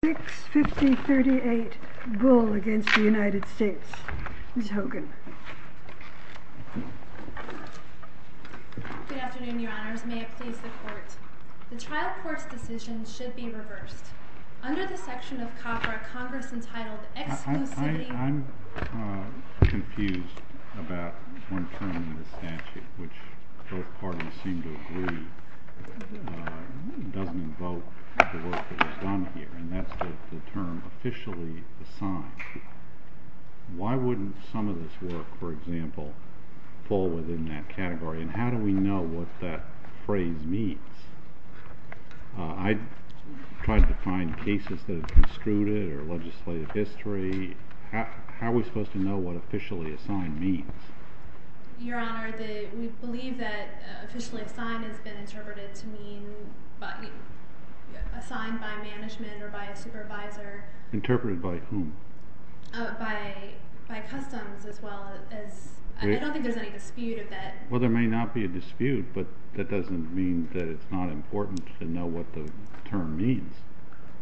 The trial court's decision should be reversed. Under the section of CAFRA, Congress entitled exclusively... The trial court's decision should be reversed. Under the section of CAFRA, Congress entitled The trial court's decision should be reversed. Under the section of CAFRA, Congress entitled by customs as well as... I don't think there's any dispute of that. Well, there may not be a dispute, but that doesn't mean that it's not important to know what the term means.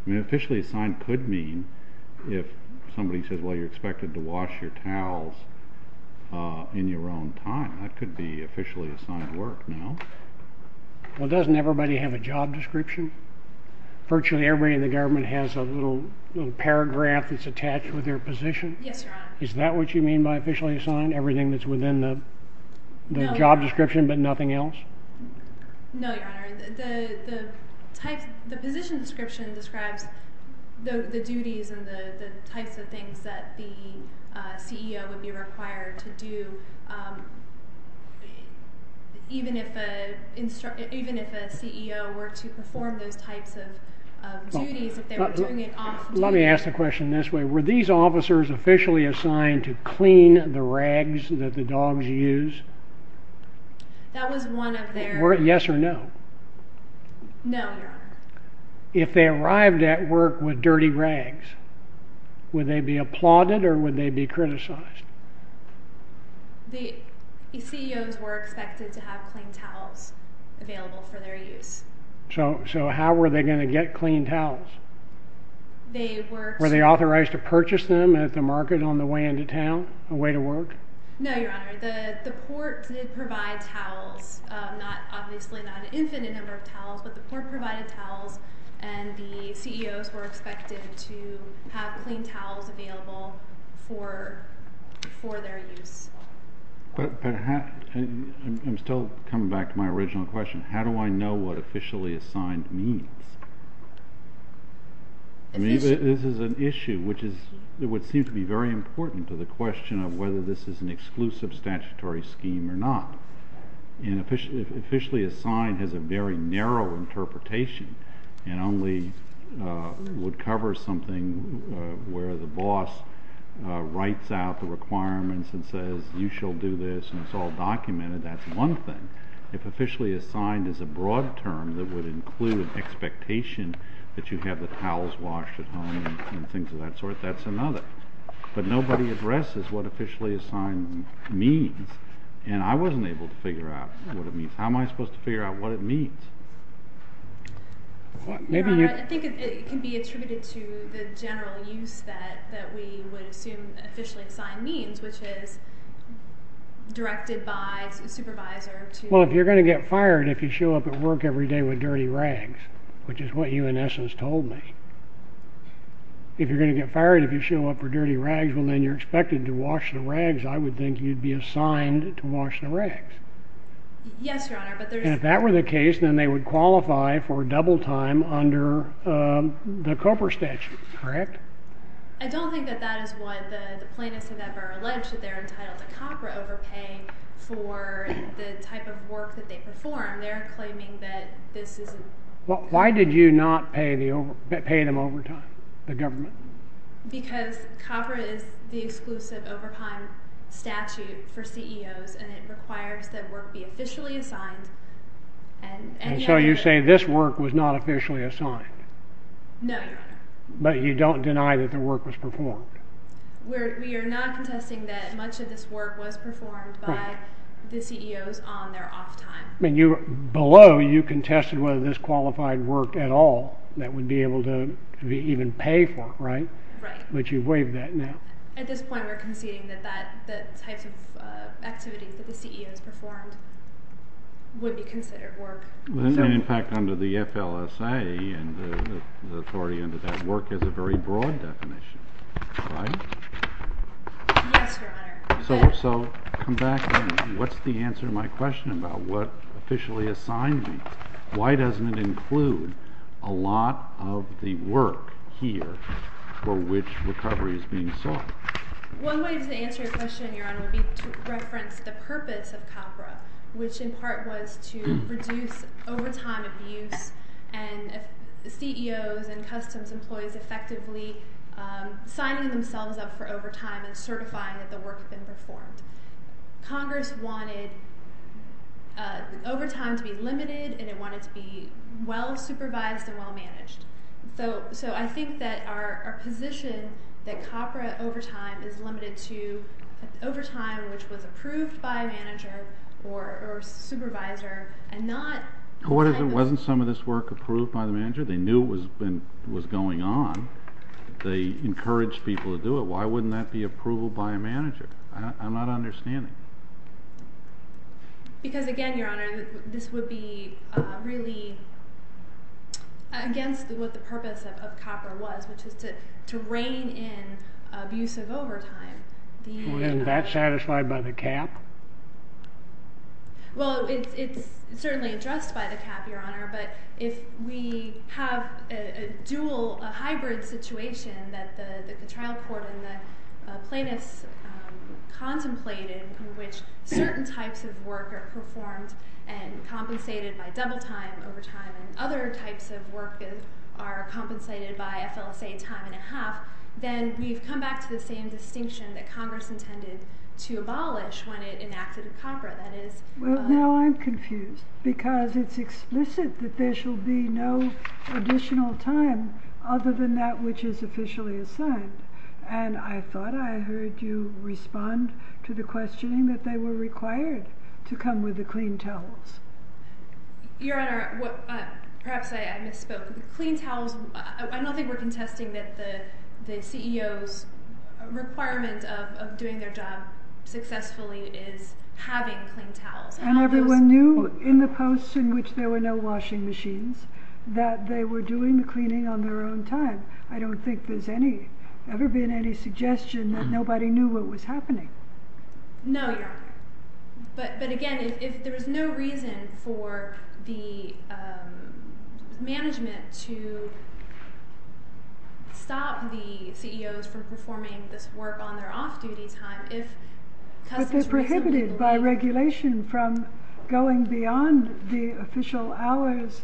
Officially assigned could mean if somebody says, well, you're expected to wash your towels in your own time. That could be officially assigned work now. Well, doesn't everybody have a job description? Virtually everybody in the government has a little paragraph that's attached with their position? Yes, Your Honor. Is that what you mean by officially assigned? Everything that's within the job description but nothing else? No, Your Honor. The position description describes the duties and the types of things that the CEO would be required to do even if a CEO were to perform those types of duties if they were doing it off duty. Let me ask the question this way. Were these officers officially assigned to clean the rags that the dogs use? That was one of their... Yes or no? No, Your Honor. If they arrived at work with dirty rags, would they be applauded or would they be criticized? The CEOs were expected to have clean towels available for their use. So how were they going to get clean towels? They worked... Were they authorized to purchase them at the market on the way into town? A way to work? No, Your Honor. The port did provide towels. Obviously not an infinite number of towels, but the port provided towels and the CEOs were expected to have clean towels available for their use. I'm still coming back to my original question. How do I know what officially assigned means? This is an issue which would seem to be very important to the question of whether this is an exclusive statutory scheme or not. Officially assigned has a very narrow interpretation and only would cover something where the boss writes out the requirements and says you shall do this and it's all documented. That's one thing. If officially assigned is a broad term that would include expectation that you have the towels washed at home and things of that sort, that's another. But nobody addresses what officially assigned means and I wasn't able to figure out what it means. How am I supposed to figure out what it means? Your Honor, I think it can be attributed to the general use that we would assume officially assigned means, which is directed by a supervisor to... Well, if you're going to get fired if you show up at work every day with dirty rags, which is what you in essence told me. If you're going to get fired if you show up with dirty rags, well then you're expected to wash the rags. I would think you'd be assigned to wash the rags. Yes, Your Honor. And if that were the case, then they would qualify for double time under the COPRA statute, correct? I don't think that that is what the plaintiffs have ever alleged. They're entitled to COPRA overpaying for the type of work that they perform. They're claiming that this isn't... Why did you not pay them overtime, the government? Because COPRA is the exclusive overtime statute for CEOs and it requires that work be officially assigned. And so you say this work was not officially assigned? No, Your Honor. But you don't deny that the work was performed? We are not contesting that much of this work was performed by the CEOs on their off time. Below, you contested whether this qualified work at all that would be able to even pay for, right? Right. But you've waived that now. At this point, we're conceding that the types of activities that the CEOs performed would be considered work. In fact, under the FLSA and the authority under that, work is a very broad definition, right? Yes, Your Honor. So come back to me. What's the answer to my question about what officially assigned me? Why doesn't it include a lot of the work here for which recovery is being sought? One way to answer your question, Your Honor, would be to reference the purpose of COPRA, which in part was to reduce overtime abuse and CEOs and customs employees effectively signing themselves up for overtime and certifying that the work had been performed. Congress wanted overtime to be limited and it wanted to be well-supervised and well-managed. So I think that our position that COPRA overtime is limited to overtime which was approved by a manager or supervisor and not— Wasn't some of this work approved by the manager? They knew it was going on. They encouraged people to do it. Why wouldn't that be approved by a manager? I'm not understanding. Because again, Your Honor, this would be really against what the purpose of COPRA was, which was to rein in abusive overtime. Isn't that satisfied by the cap? Well, it's certainly addressed by the cap, Your Honor, but if we have a dual, a hybrid situation that the trial court and the plaintiffs contemplated in which certain types of work are performed and compensated by double time overtime and other types of work are compensated by FLSA time and a half, then we've come back to the same distinction that Congress intended to abolish when it enacted COPRA. Well, now I'm confused because it's explicit that there shall be no additional time other than that which is officially assigned. And I thought I heard you respond to the questioning that they were required to come with the clean towels. Your Honor, perhaps I misspoke. I don't think we're contesting that the CEO's requirement of doing their job successfully is having clean towels. And everyone knew in the post in which there were no washing machines that they were doing the cleaning on their own time. I don't think there's ever been any suggestion that nobody knew what was happening. No, Your Honor. But again, if there is no reason for the management to stop the CEOs from performing this work on their off-duty time. But they're prohibited by regulation from going beyond the official hours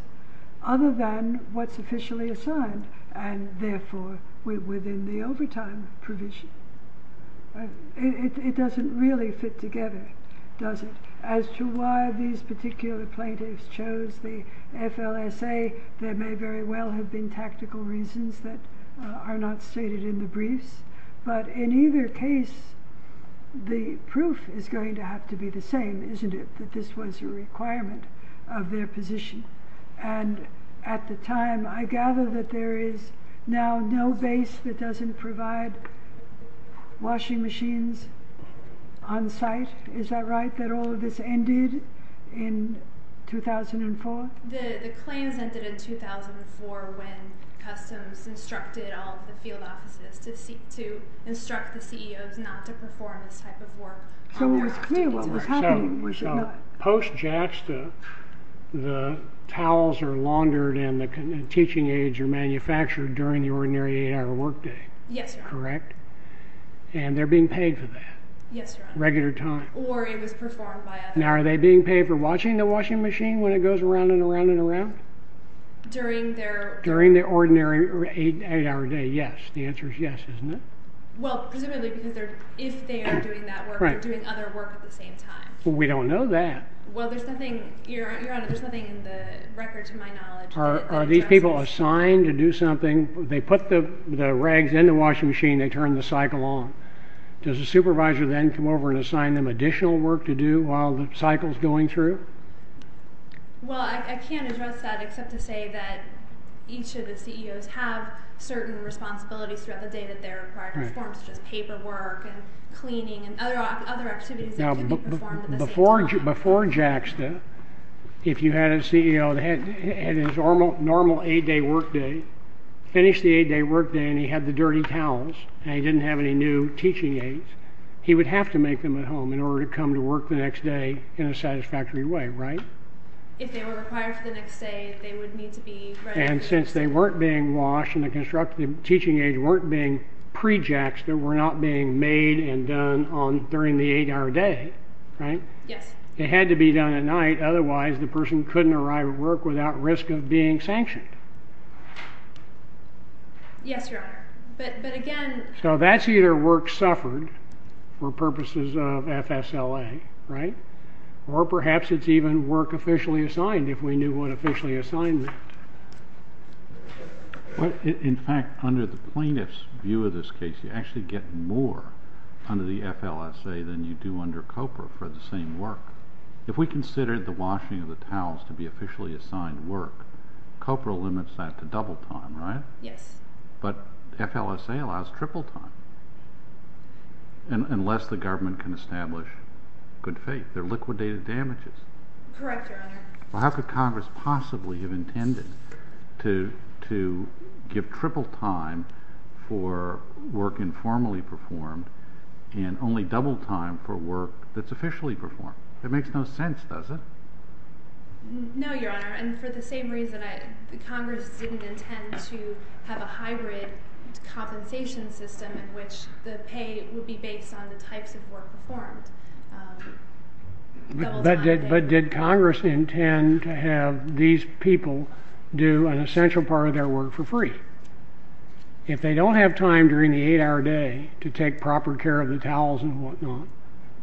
other than what's officially assigned. And therefore, we're within the overtime provision. It doesn't really fit together, does it? As to why these particular plaintiffs chose the FLSA, there may very well have been tactical reasons that are not stated in the briefs. But in either case, the proof is going to have to be the same, isn't it? That this was a requirement of their position. And at the time, I gather that there is now no base that doesn't provide washing machines on site. Is that right, that all of this ended in 2004? The claims ended in 2004 when customs instructed all the field offices to instruct the CEOs not to perform this type of work. So, post-JAXTA, the towels are laundered and the teaching aids are manufactured during the ordinary eight-hour workday. Yes, Your Honor. Correct? And they're being paid for that? Yes, Your Honor. Regular time? Or it was performed by others. Now, are they being paid for watching the washing machine when it goes around and around and around? During their... During their ordinary eight-hour day, yes. The answer is yes, isn't it? Well, presumably because if they are doing that work, they're doing other work at the same time. Well, we don't know that. Well, there's nothing, Your Honor, there's nothing in the record to my knowledge... Are these people assigned to do something? They put the rags in the washing machine, they turn the cycle on. Does the supervisor then come over and assign them additional work to do while the cycle's going through? Well, I can't address that except to say that each of the CEOs have certain responsibilities throughout the day that they're required to perform, such as paperwork and cleaning and other activities that can be performed at the same time. Now, before JAXTA, if you had a CEO that had his normal eight-day workday, finished the eight-day workday and he had the dirty towels and he didn't have any new teaching aids, he would have to make them at home in order to come to work the next day in a satisfactory way, right? If they were required for the next day, they would need to be ready... And since they weren't being washed and the teaching aids weren't being pre-JAXTA, were not being made and done during the eight-hour day, right? Yes. It had to be done at night, otherwise the person couldn't arrive at work without risk of being sanctioned. Yes, Your Honor, but again... So that's either work suffered for purposes of FSLA, right? Or perhaps it's even work officially assigned if we knew what officially assigned meant. In fact, under the plaintiff's view of this case, you actually get more under the FLSA than you do under COPRA for the same work. If we considered the washing of the towels to be officially assigned work, COPRA limits that to double time, right? Yes. But FLSA allows triple time, unless the government can establish good faith. They're liquidated damages. Correct, Your Honor. Well, how could Congress possibly have intended to give triple time for work informally performed and only double time for work that's officially performed? That makes no sense, does it? No, Your Honor. And for the same reason, Congress didn't intend to have a hybrid compensation system in which the pay would be based on the types of work performed. But did Congress intend to have these people do an essential part of their work for free? If they don't have time during the eight-hour day to take proper care of the towels and whatnot,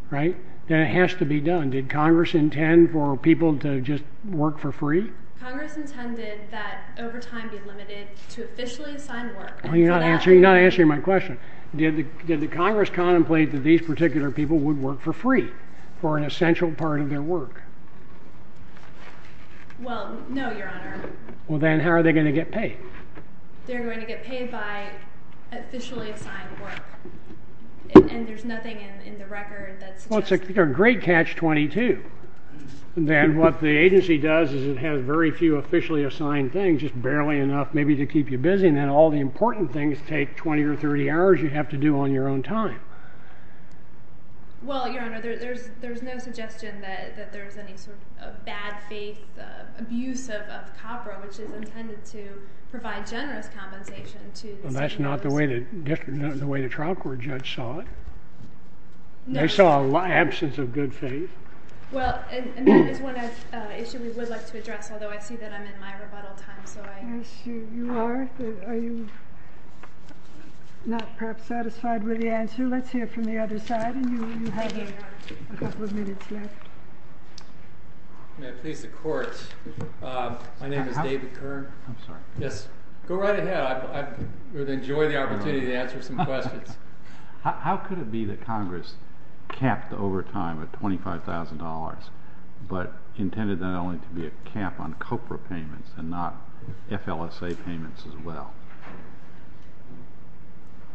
right, then it has to be done. Did Congress intend for people to just work for free? Congress intended that overtime be limited to officially assigned work. Well, you're not answering my question. Did the Congress contemplate that these particular people would work for free for an essential part of their work? Well, no, Your Honor. Well, then how are they going to get paid? They're going to get paid by officially assigned work, and there's nothing in the record that suggests that. Well, it's a great catch-22. Then what the agency does is it has very few officially assigned things, just barely enough maybe to keep you busy, and then all the important things take 20 or 30 hours you have to do on your own time. Well, Your Honor, there's no suggestion that there's any sort of bad faith abuse of COPRA, which is intended to provide generous compensation to the state employees. Well, that's not the way the trial court judge saw it. They saw an absence of good faith. Well, and that is one issue we would like to address, although I see that I'm in my rebuttal time. Yes, you are. Are you not perhaps satisfied with the answer? Let's hear from the other side, and you have a couple of minutes left. May it please the Court, my name is David Kern. I'm sorry. Yes, go right ahead. I would enjoy the opportunity to answer some questions. How could it be that Congress capped the overtime at $25,000, but intended that only to be a cap on COPRA payments and not FLSA payments as well?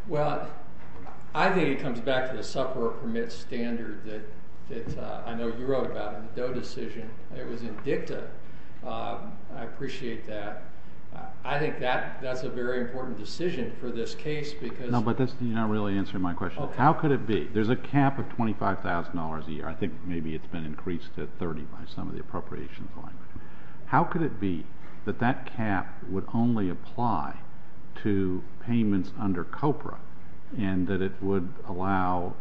Well, I think it comes back to the sufferer permit standard that I know you wrote about in the Doe decision. It was in dicta. I appreciate that. I think that's a very important decision for this case because— No, but that's not really answering my question. How could it be? There's a cap of $25,000 a year. I think maybe it's been increased to $30,000 by some of the appropriations. How could it be that that cap would only apply to payments under COPRA and that it would allow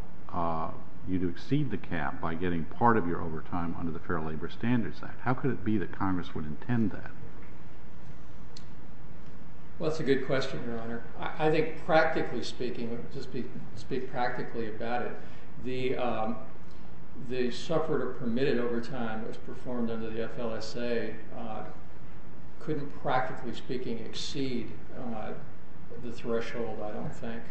you to exceed the cap by getting part of your overtime under the Fair Labor Standards Act? How could it be that Congress would intend that? Well, that's a good question, Your Honor. I think practically speaking, just to speak practically about it, the sufferer permitted overtime that was performed under the FLSA couldn't practically speaking exceed the threshold, I don't think.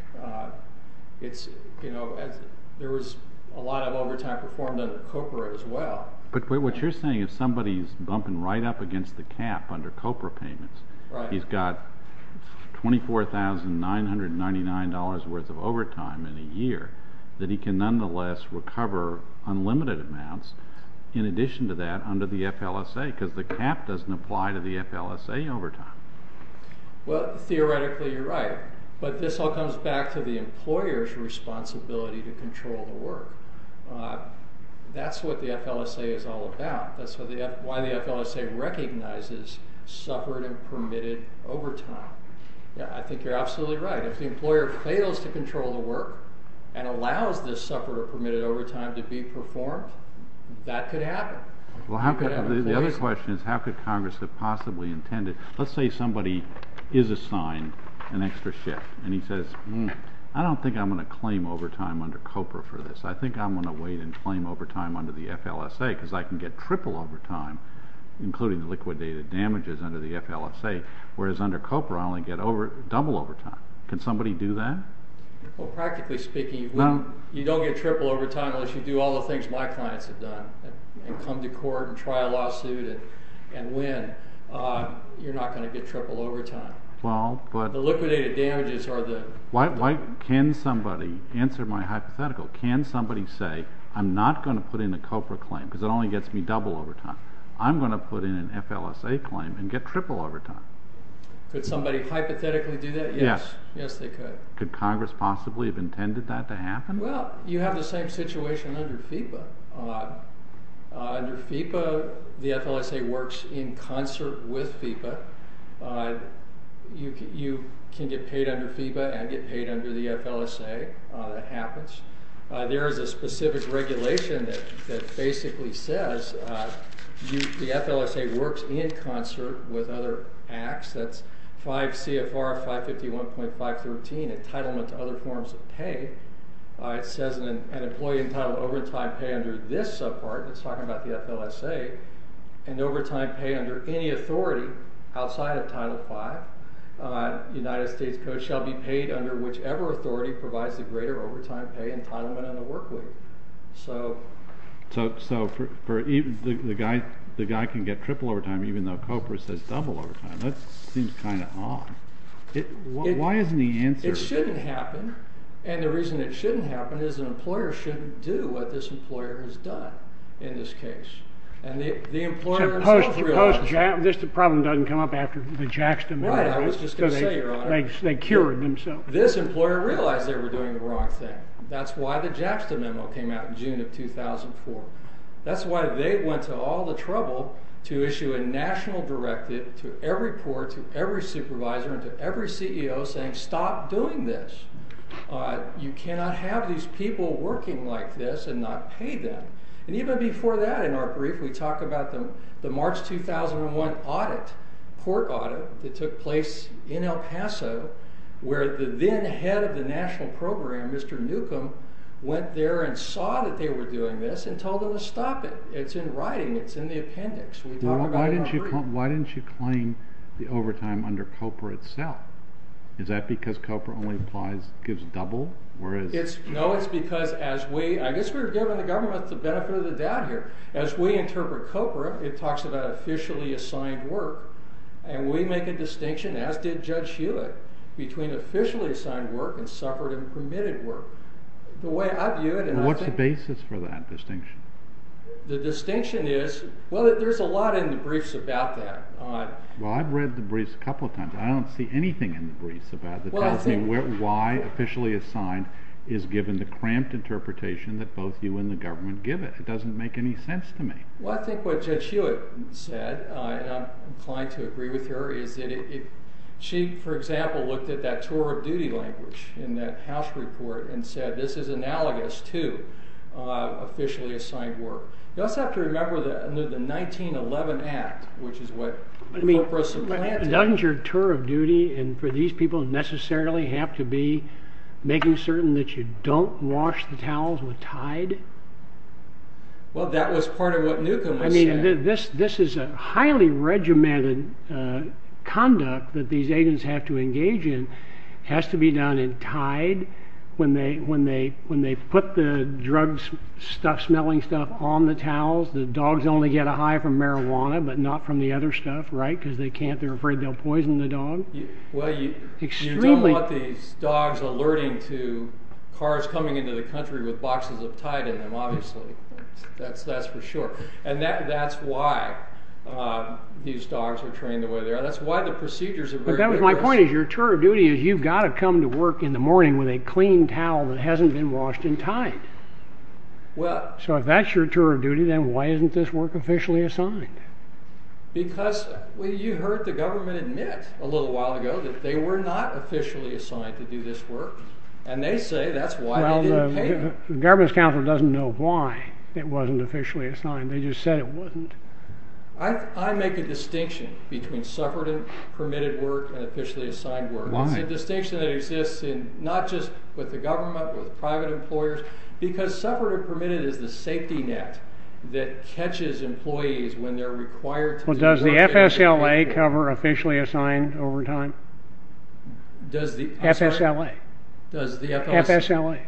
There was a lot of overtime performed under COPRA as well. But what you're saying is somebody's bumping right up against the cap under COPRA payments. He's got $24,999 worth of overtime in a year that he can nonetheless recover unlimited amounts in addition to that under the FLSA because the cap doesn't apply to the FLSA overtime. Well, theoretically, you're right. But this all comes back to the employer's responsibility to control the work. That's what the FLSA is all about. That's why the FLSA recognizes sufferer permitted overtime. I think you're absolutely right. If the employer fails to control the work and allows this sufferer permitted overtime to be performed, that could happen. The other question is how could Congress have possibly intended? Let's say somebody is assigned an extra shift and he says, I don't think I'm going to claim overtime under COPRA for this. I think I'm going to wait and claim overtime under the FLSA because I can get triple overtime, including the liquidated damages under the FLSA, whereas under COPRA I only get double overtime. Can somebody do that? Practically speaking, you don't get triple overtime unless you do all the things my clients have done and come to court and try a lawsuit and win. You're not going to get triple overtime. The liquidated damages are the— Can somebody answer my hypothetical? Can somebody say, I'm not going to put in a COPRA claim because it only gets me double overtime. I'm going to put in an FLSA claim and get triple overtime. Could somebody hypothetically do that? Yes. Yes, they could. Could Congress possibly have intended that to happen? Well, you have the same situation under FIPA. Under FIPA, the FLSA works in concert with FIPA. You can get paid under FIPA and get paid under the FLSA. That happens. There is a specific regulation that basically says the FLSA works in concert with other acts. That's 5 CFR 551.513, entitlement to other forms of pay. It says an employee entitled to overtime pay under this subpart. It's talking about the FLSA. An overtime pay under any authority outside of Title V, United States Code, shall be paid under whichever authority provides the greater overtime pay entitlement on the work week. So the guy can get triple overtime even though COPRA says double overtime. That seems kind of odd. Why isn't the answer— It shouldn't happen. And the reason it shouldn't happen is an employer shouldn't do what this employer has done in this case. Suppose this problem doesn't come up after the JAXTA memo. I was just going to say, Your Honor. They cured themselves. This employer realized they were doing the wrong thing. That's why the JAXTA memo came out in June of 2004. That's why they went to all the trouble to issue a national directive to every court, to every supervisor, and to every CEO saying stop doing this. You cannot have these people working like this and not pay them. And even before that, in our brief, we talk about the March 2001 audit, court audit, that took place in El Paso where the then head of the national program, Mr. Newcomb, went there and saw that they were doing this and told them to stop it. It's in writing. It's in the appendix. Why didn't you claim the overtime under COPRA itself? Is that because COPRA only applies—gives double? No, it's because as we—I guess we're giving the government the benefit of the doubt here. As we interpret COPRA, it talks about officially assigned work, and we make a distinction, as did Judge Hewitt, between officially assigned work and separate and permitted work. The way I view it— What's the basis for that distinction? The distinction is—well, there's a lot in the briefs about that. Well, I've read the briefs a couple of times. I don't see anything in the briefs about it that tells me why officially assigned is given the cramped interpretation that both you and the government give it. It doesn't make any sense to me. Well, I think what Judge Hewitt said, and I'm inclined to agree with her, is that she, for example, looked at that tour of duty language in that House report and said this is analogous to officially assigned work. You also have to remember the 1911 Act, which is what COPRA supplanted. I mean, doesn't your tour of duty, and for these people, necessarily have to be making certain that you don't wash the towels with Tide? Well, that was part of what Newcomb was saying. This is a highly regimented conduct that these agents have to engage in. It has to be done in Tide when they put the drug smelling stuff on the towels. The dogs only get a high from marijuana, but not from the other stuff, right? Because they're afraid they'll poison the dog. Well, you don't want these dogs alerting to cars coming into the country with boxes of Tide in them, obviously. That's for sure. And that's why these dogs are trained the way they are. That's why the procedures are very rigorous. But my point is, your tour of duty is you've got to come to work in the morning with a clean towel that hasn't been washed in Tide. So if that's your tour of duty, then why isn't this work officially assigned? Because you heard the government admit a little while ago that they were not officially assigned to do this work. The government's counsel doesn't know why it wasn't officially assigned. They just said it wasn't. I make a distinction between suffragette-permitted work and officially assigned work. It's a distinction that exists not just with the government, with private employers, because suffragette-permitted is the safety net that catches employees when they're required to do something. Well, does the FSLA cover officially assigned overtime? FSLA. FSLA.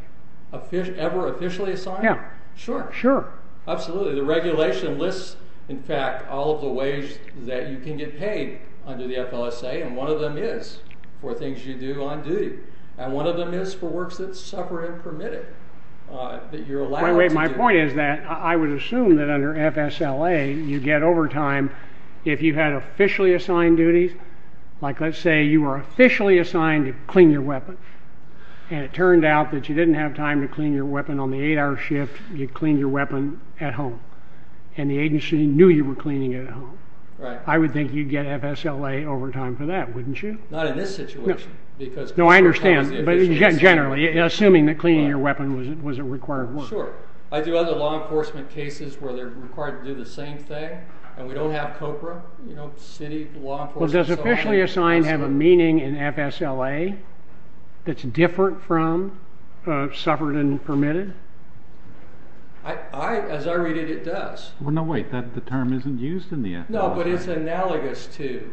Ever officially assigned? Yeah. Sure. Sure. Absolutely. The regulation lists, in fact, all of the ways that you can get paid under the FLSA, and one of them is for things you do on duty, and one of them is for works that are suffragette-permitted that you're allowed to do. My point is that I would assume that under FSLA you get overtime if you had officially assigned duties. Like let's say you were officially assigned to clean your weapon, and it turned out that you didn't have time to clean your weapon on the 8-hour shift. You cleaned your weapon at home, and the agency knew you were cleaning it at home. I would think you'd get FSLA overtime for that, wouldn't you? Not in this situation. No, I understand, but generally, assuming that cleaning your weapon was a required work. Sure. I do other law enforcement cases where they're required to do the same thing, and we don't have COPRA, you know, city law enforcement. Well, does officially assigned have a meaning in FSLA that's different from suffragette-permitted? As I read it, it does. No, wait, the term isn't used in the FLSA. No, but it's analogous to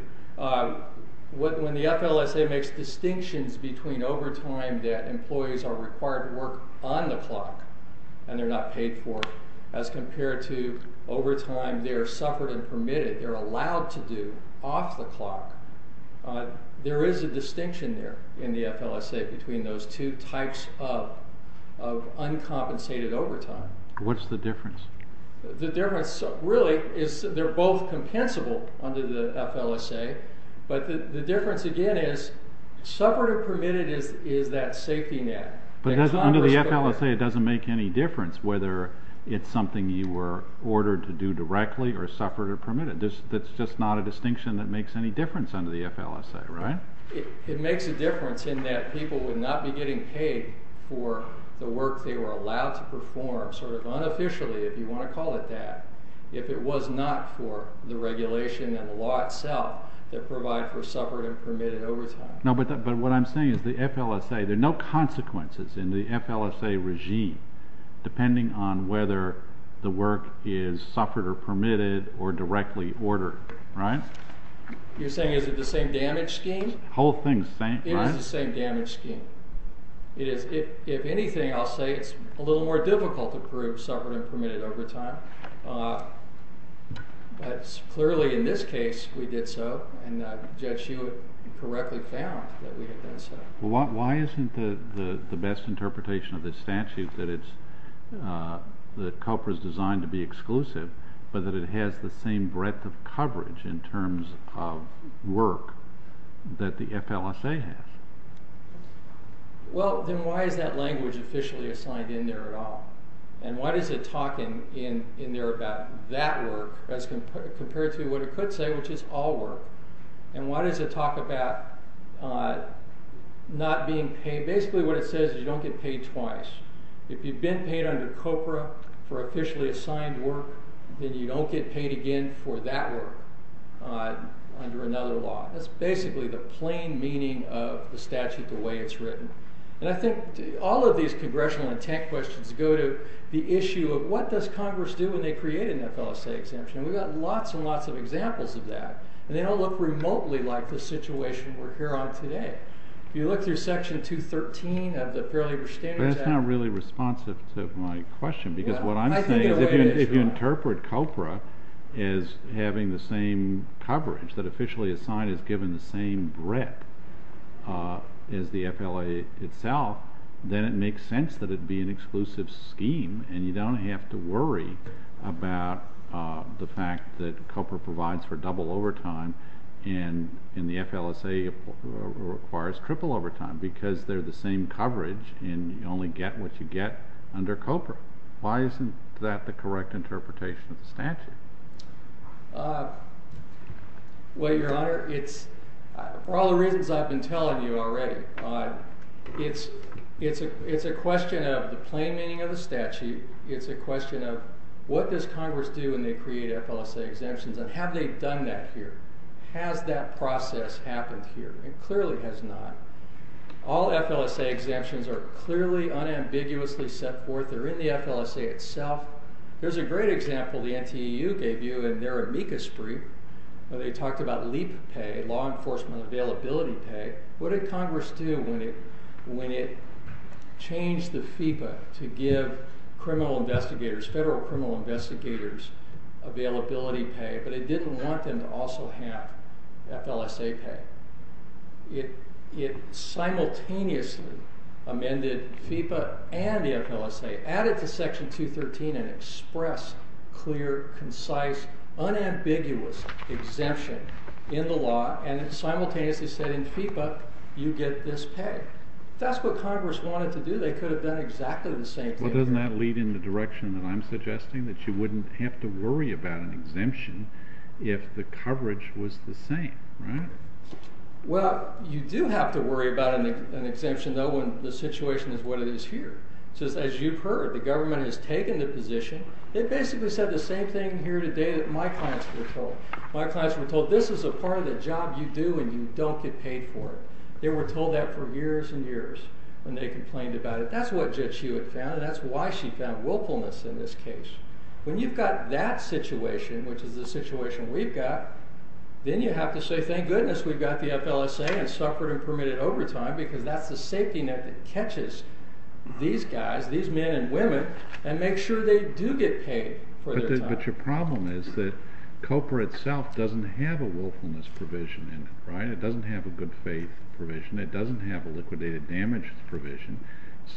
when the FLSA makes distinctions between overtime that employees are required to work on the clock and they're not paid for as compared to overtime they're suffragette-permitted, they're allowed to do off the clock. There is a distinction there in the FLSA between those two types of uncompensated overtime. What's the difference? The difference really is they're both compensable under the FLSA, but the difference again is suffragette-permitted is that safety net. But under the FLSA it doesn't make any difference whether it's something you were ordered to do directly or suffragette-permitted. That's just not a distinction that makes any difference under the FLSA, right? It makes a difference in that people would not be getting paid for the work they were allowed to perform sort of unofficially, if you want to call it that, if it was not for the regulation and the law itself that provide for suffragette-permitted overtime. No, but what I'm saying is the FLSA, there are no consequences in the FLSA regime depending on whether the work is suffragette-permitted or directly ordered, right? You're saying is it the same damage scheme? The whole thing is the same, right? It is the same damage scheme. If anything, I'll say it's a little more difficult to prove suffragette-permitted overtime, but clearly in this case we did so, and Judge Sheila correctly found that we had done so. Well, why isn't the best interpretation of this statute that COPA is designed to be exclusive, but that it has the same breadth of coverage in terms of work that the FLSA has? Well, then why is that language officially assigned in there at all? And why does it talk in there about that work as compared to what it could say, which is all work? And why does it talk about not being paid? Basically what it says is you don't get paid twice. If you've been paid under COPA for officially assigned work, then you don't get paid again for that work under another law. That's basically the plain meaning of the statute the way it's written. And I think all of these congressional and tech questions go to the issue of what does Congress do when they create an FLSA exemption, and we've got lots and lots of examples of that, and they don't look remotely like the situation we're here on today. If you look through Section 213 of the Fair Labor Standards Act— But it's not really responsive to my question, because what I'm saying is if you interpret COPA as having the same coverage that officially assigned is given the same breadth as the FLSA itself, then it makes sense that it would be an exclusive scheme, and you don't have to worry about the fact that COPA provides for double overtime and the FLSA requires triple overtime because they're the same coverage, and you only get what you get under COPA. Why isn't that the correct interpretation of the statute? Well, Your Honor, for all the reasons I've been telling you already, it's a question of the plain meaning of the statute. It's a question of what does Congress do when they create FLSA exemptions, and have they done that here? Has that process happened here? It clearly has not. All FLSA exemptions are clearly unambiguously set forth. They're in the FLSA itself. There's a great example the NTEU gave you in their amicus brief where they talked about LEAP pay, law enforcement availability pay. What did Congress do when it changed the FIPA to give criminal investigators, federal criminal investigators, availability pay, but it didn't want them to also have FLSA pay? It simultaneously amended FIPA and the FLSA, added to Section 213 and expressed clear, concise, unambiguous exemption in the law and simultaneously said in FIPA you get this pay. If that's what Congress wanted to do, they could have done exactly the same thing. Well, doesn't that lead in the direction that I'm suggesting, that you wouldn't have to worry about an exemption if the coverage was the same, right? Well, you do have to worry about an exemption, though, when the situation is what it is here. As you've heard, the government has taken the position. They basically said the same thing here today that my clients were told. My clients were told this is a part of the job you do and you don't get paid for it. They were told that for years and years when they complained about it. That's what Judge Hewitt found, and that's why she found willfulness in this case. When you've got that situation, which is the situation we've got, then you have to say thank goodness we've got the FLSA and suffered and permitted overtime because that's the safety net that catches these guys, these men and women, and makes sure they do get paid for their time. But your problem is that COPA itself doesn't have a willfulness provision in it, right? It doesn't have a good faith provision. It doesn't have a liquidated damage provision.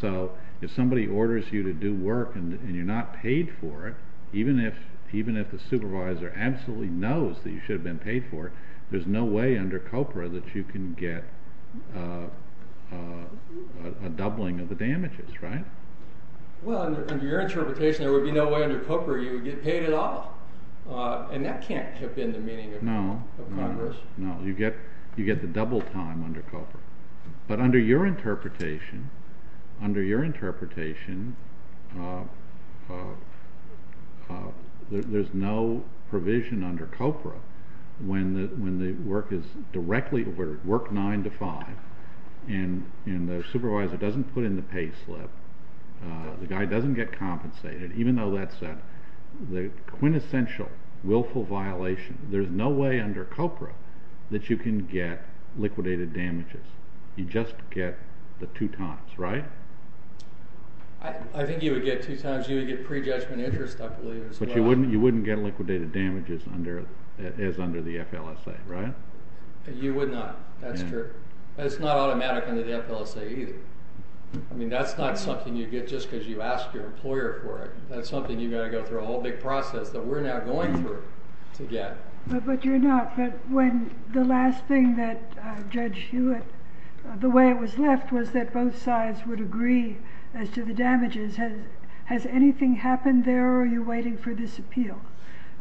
So if somebody orders you to do work and you're not paid for it, even if the supervisor absolutely knows that you should have been paid for it, there's no way under COPA that you can get a doubling of the damages, right? Well, under your interpretation, there would be no way under COPA you would get paid at all. And that can't have been the meaning of Congress. No, you get the double time under COPA. But under your interpretation, there's no provision under COPA when the work is directly over work 9 to 5 and the supervisor doesn't put in the pay slip, the guy doesn't get compensated, even though that's the quintessential willful violation. There's no way under COPA that you can get liquidated damages. You just get the two times, right? I think you would get two times. You would get prejudgment interest, I believe, as well. But you wouldn't get liquidated damages as under the FLSA, right? You would not, that's true. But it's not automatic under the FLSA either. I mean, that's not something you get just because you ask your employer for it. That's something you've got to go through a whole big process that we're now going through to get. But you're not, but when the last thing that Judge Hewitt, the way it was left was that both sides would agree as to the damages. Has anything happened there or are you waiting for this appeal?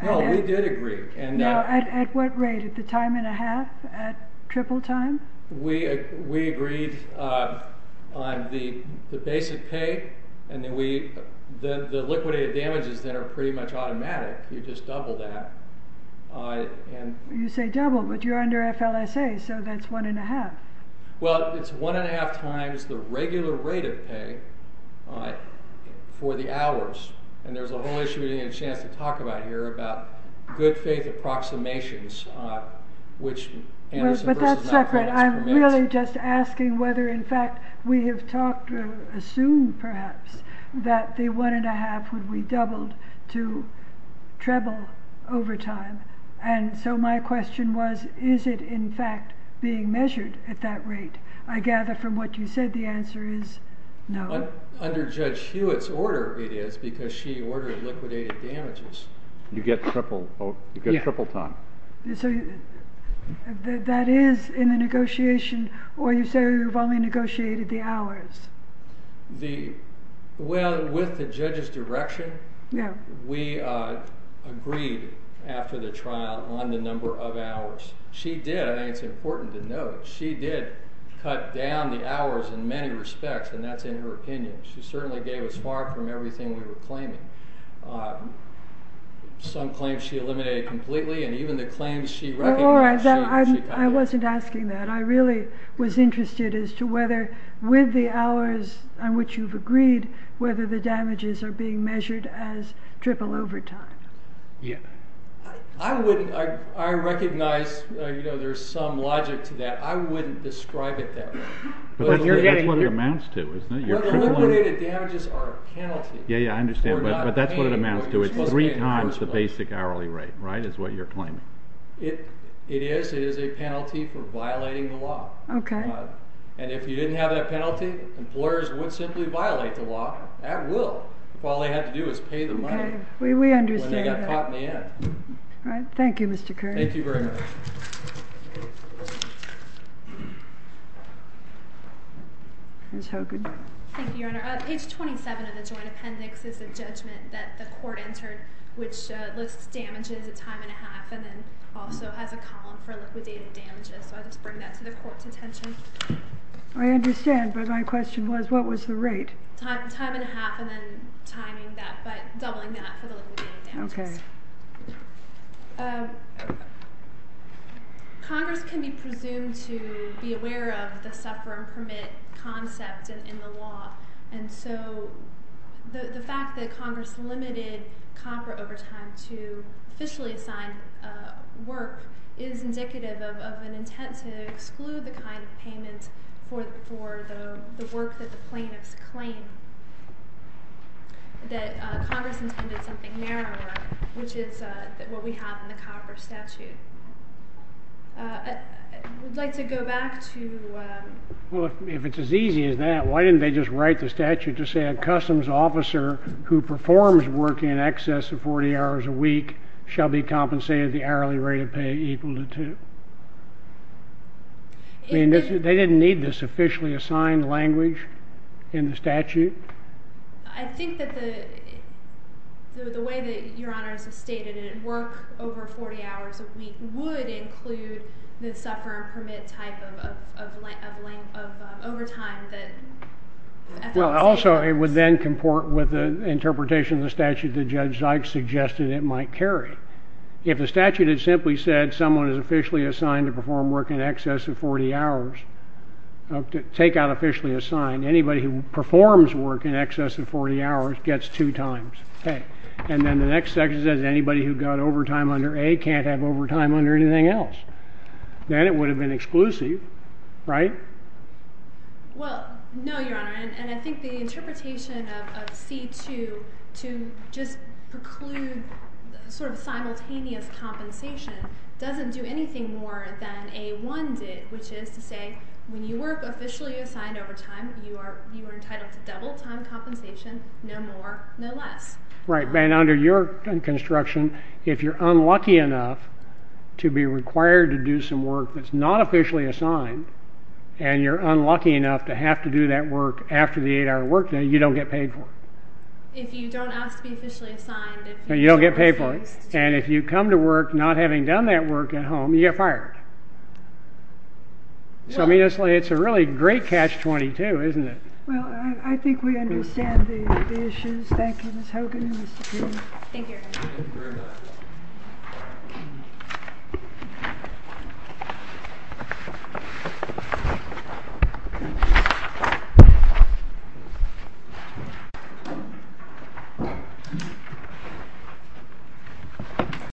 No, we did agree. At what rate? At the time and a half? At triple time? We agreed on the basic pay and the liquidated damages that are pretty much automatic. You just double that. You say double, but you're under FLSA, so that's one and a half. Well, it's one and a half times the regular rate of pay for the hours. And there's a whole issue we didn't get a chance to talk about here about good faith approximations, which, but that's separate. I'm really just asking whether, in fact, we have talked to assume, perhaps, that the one and a half would be doubled to treble over time. And so my question was, is it in fact being measured at that rate? I gather from what you said, the answer is no. Under Judge Hewitt's order, it is because she ordered liquidated damages. You get triple time. So that is in the negotiation, or you say you've only negotiated the hours? Well, with the judge's direction, we agreed after the trial on the number of hours. She did, and it's important to note, she did cut down the hours in many respects, and that's in her opinion. She certainly gave us far from everything we were claiming. Some claims she eliminated completely, and even the claims she recognized she cut down. I wasn't asking that. I really was interested as to whether, with the hours on which you've agreed, whether the damages are being measured as triple over time. I recognize there's some logic to that. I wouldn't describe it that way. That's what it amounts to, isn't it? Well, the liquidated damages are a penalty. Yeah, yeah, I understand, but that's what it amounts to. It's three times the basic hourly rate, right, is what you're claiming? It is. It is a penalty for violating the law. Okay. And if you didn't have that penalty, employers would simply violate the law at will. All they had to do was pay the money when they got caught in the end. All right. Thank you, Mr. Curry. Thank you very much. Ms. Hogan. Thank you, Your Honor. Page 27 of the joint appendix is the judgment that the court entered, which lists damages at time and a half and then also has a column for liquidated damages. So I just bring that to the court's attention. I understand, but my question was what was the rate? Time and a half and then timing that, but doubling that for the liquidated damages. Okay. Congress can be presumed to be aware of the suffer and permit concept in the law, and so the fact that Congress limited COFRA overtime to officially assigned work is indicative of an intent to exclude the kind of payment for the work that the plaintiffs claim, that Congress intended something narrower, which is what we have in the COFRA statute. I would like to go back to... Well, if it's as easy as that, why didn't they just write the statute to say a customs officer who performs work in excess of 40 hours a week shall be compensated the hourly rate of pay equal to two? I mean, they didn't need this officially assigned language in the statute. I think that the way that Your Honors have stated it, work over 40 hours a week would include the suffer and permit type of overtime that... Also, it would then comport with the interpretation of the statute that Judge Zikes suggested it might carry. If the statute had simply said someone is officially assigned to perform work in excess of 40 hours, take out officially assigned, anybody who performs work in excess of 40 hours gets two times pay, and then the next section says anybody who got overtime under A can't have overtime under anything else. Then it would have been exclusive, right? Well, no, Your Honor, and I think the interpretation of C2 to just preclude sort of simultaneous compensation doesn't do anything more than A1 did, which is to say when you work officially assigned overtime, you are entitled to double time compensation, no more, no less. Right, but under your construction, if you're unlucky enough to be required to do some work that's not officially assigned, and you're unlucky enough to have to do that work after the 8-hour workday, you don't get paid for it. If you don't ask to be officially assigned, you don't get paid for it, and if you come to work not having done that work at home, you get fired. So it's a really great catch-22, isn't it? Well, I think we understand the issues. Thank you, Ms. Hogan and Mr. King. Thank you, Your Honor. Thank you very much.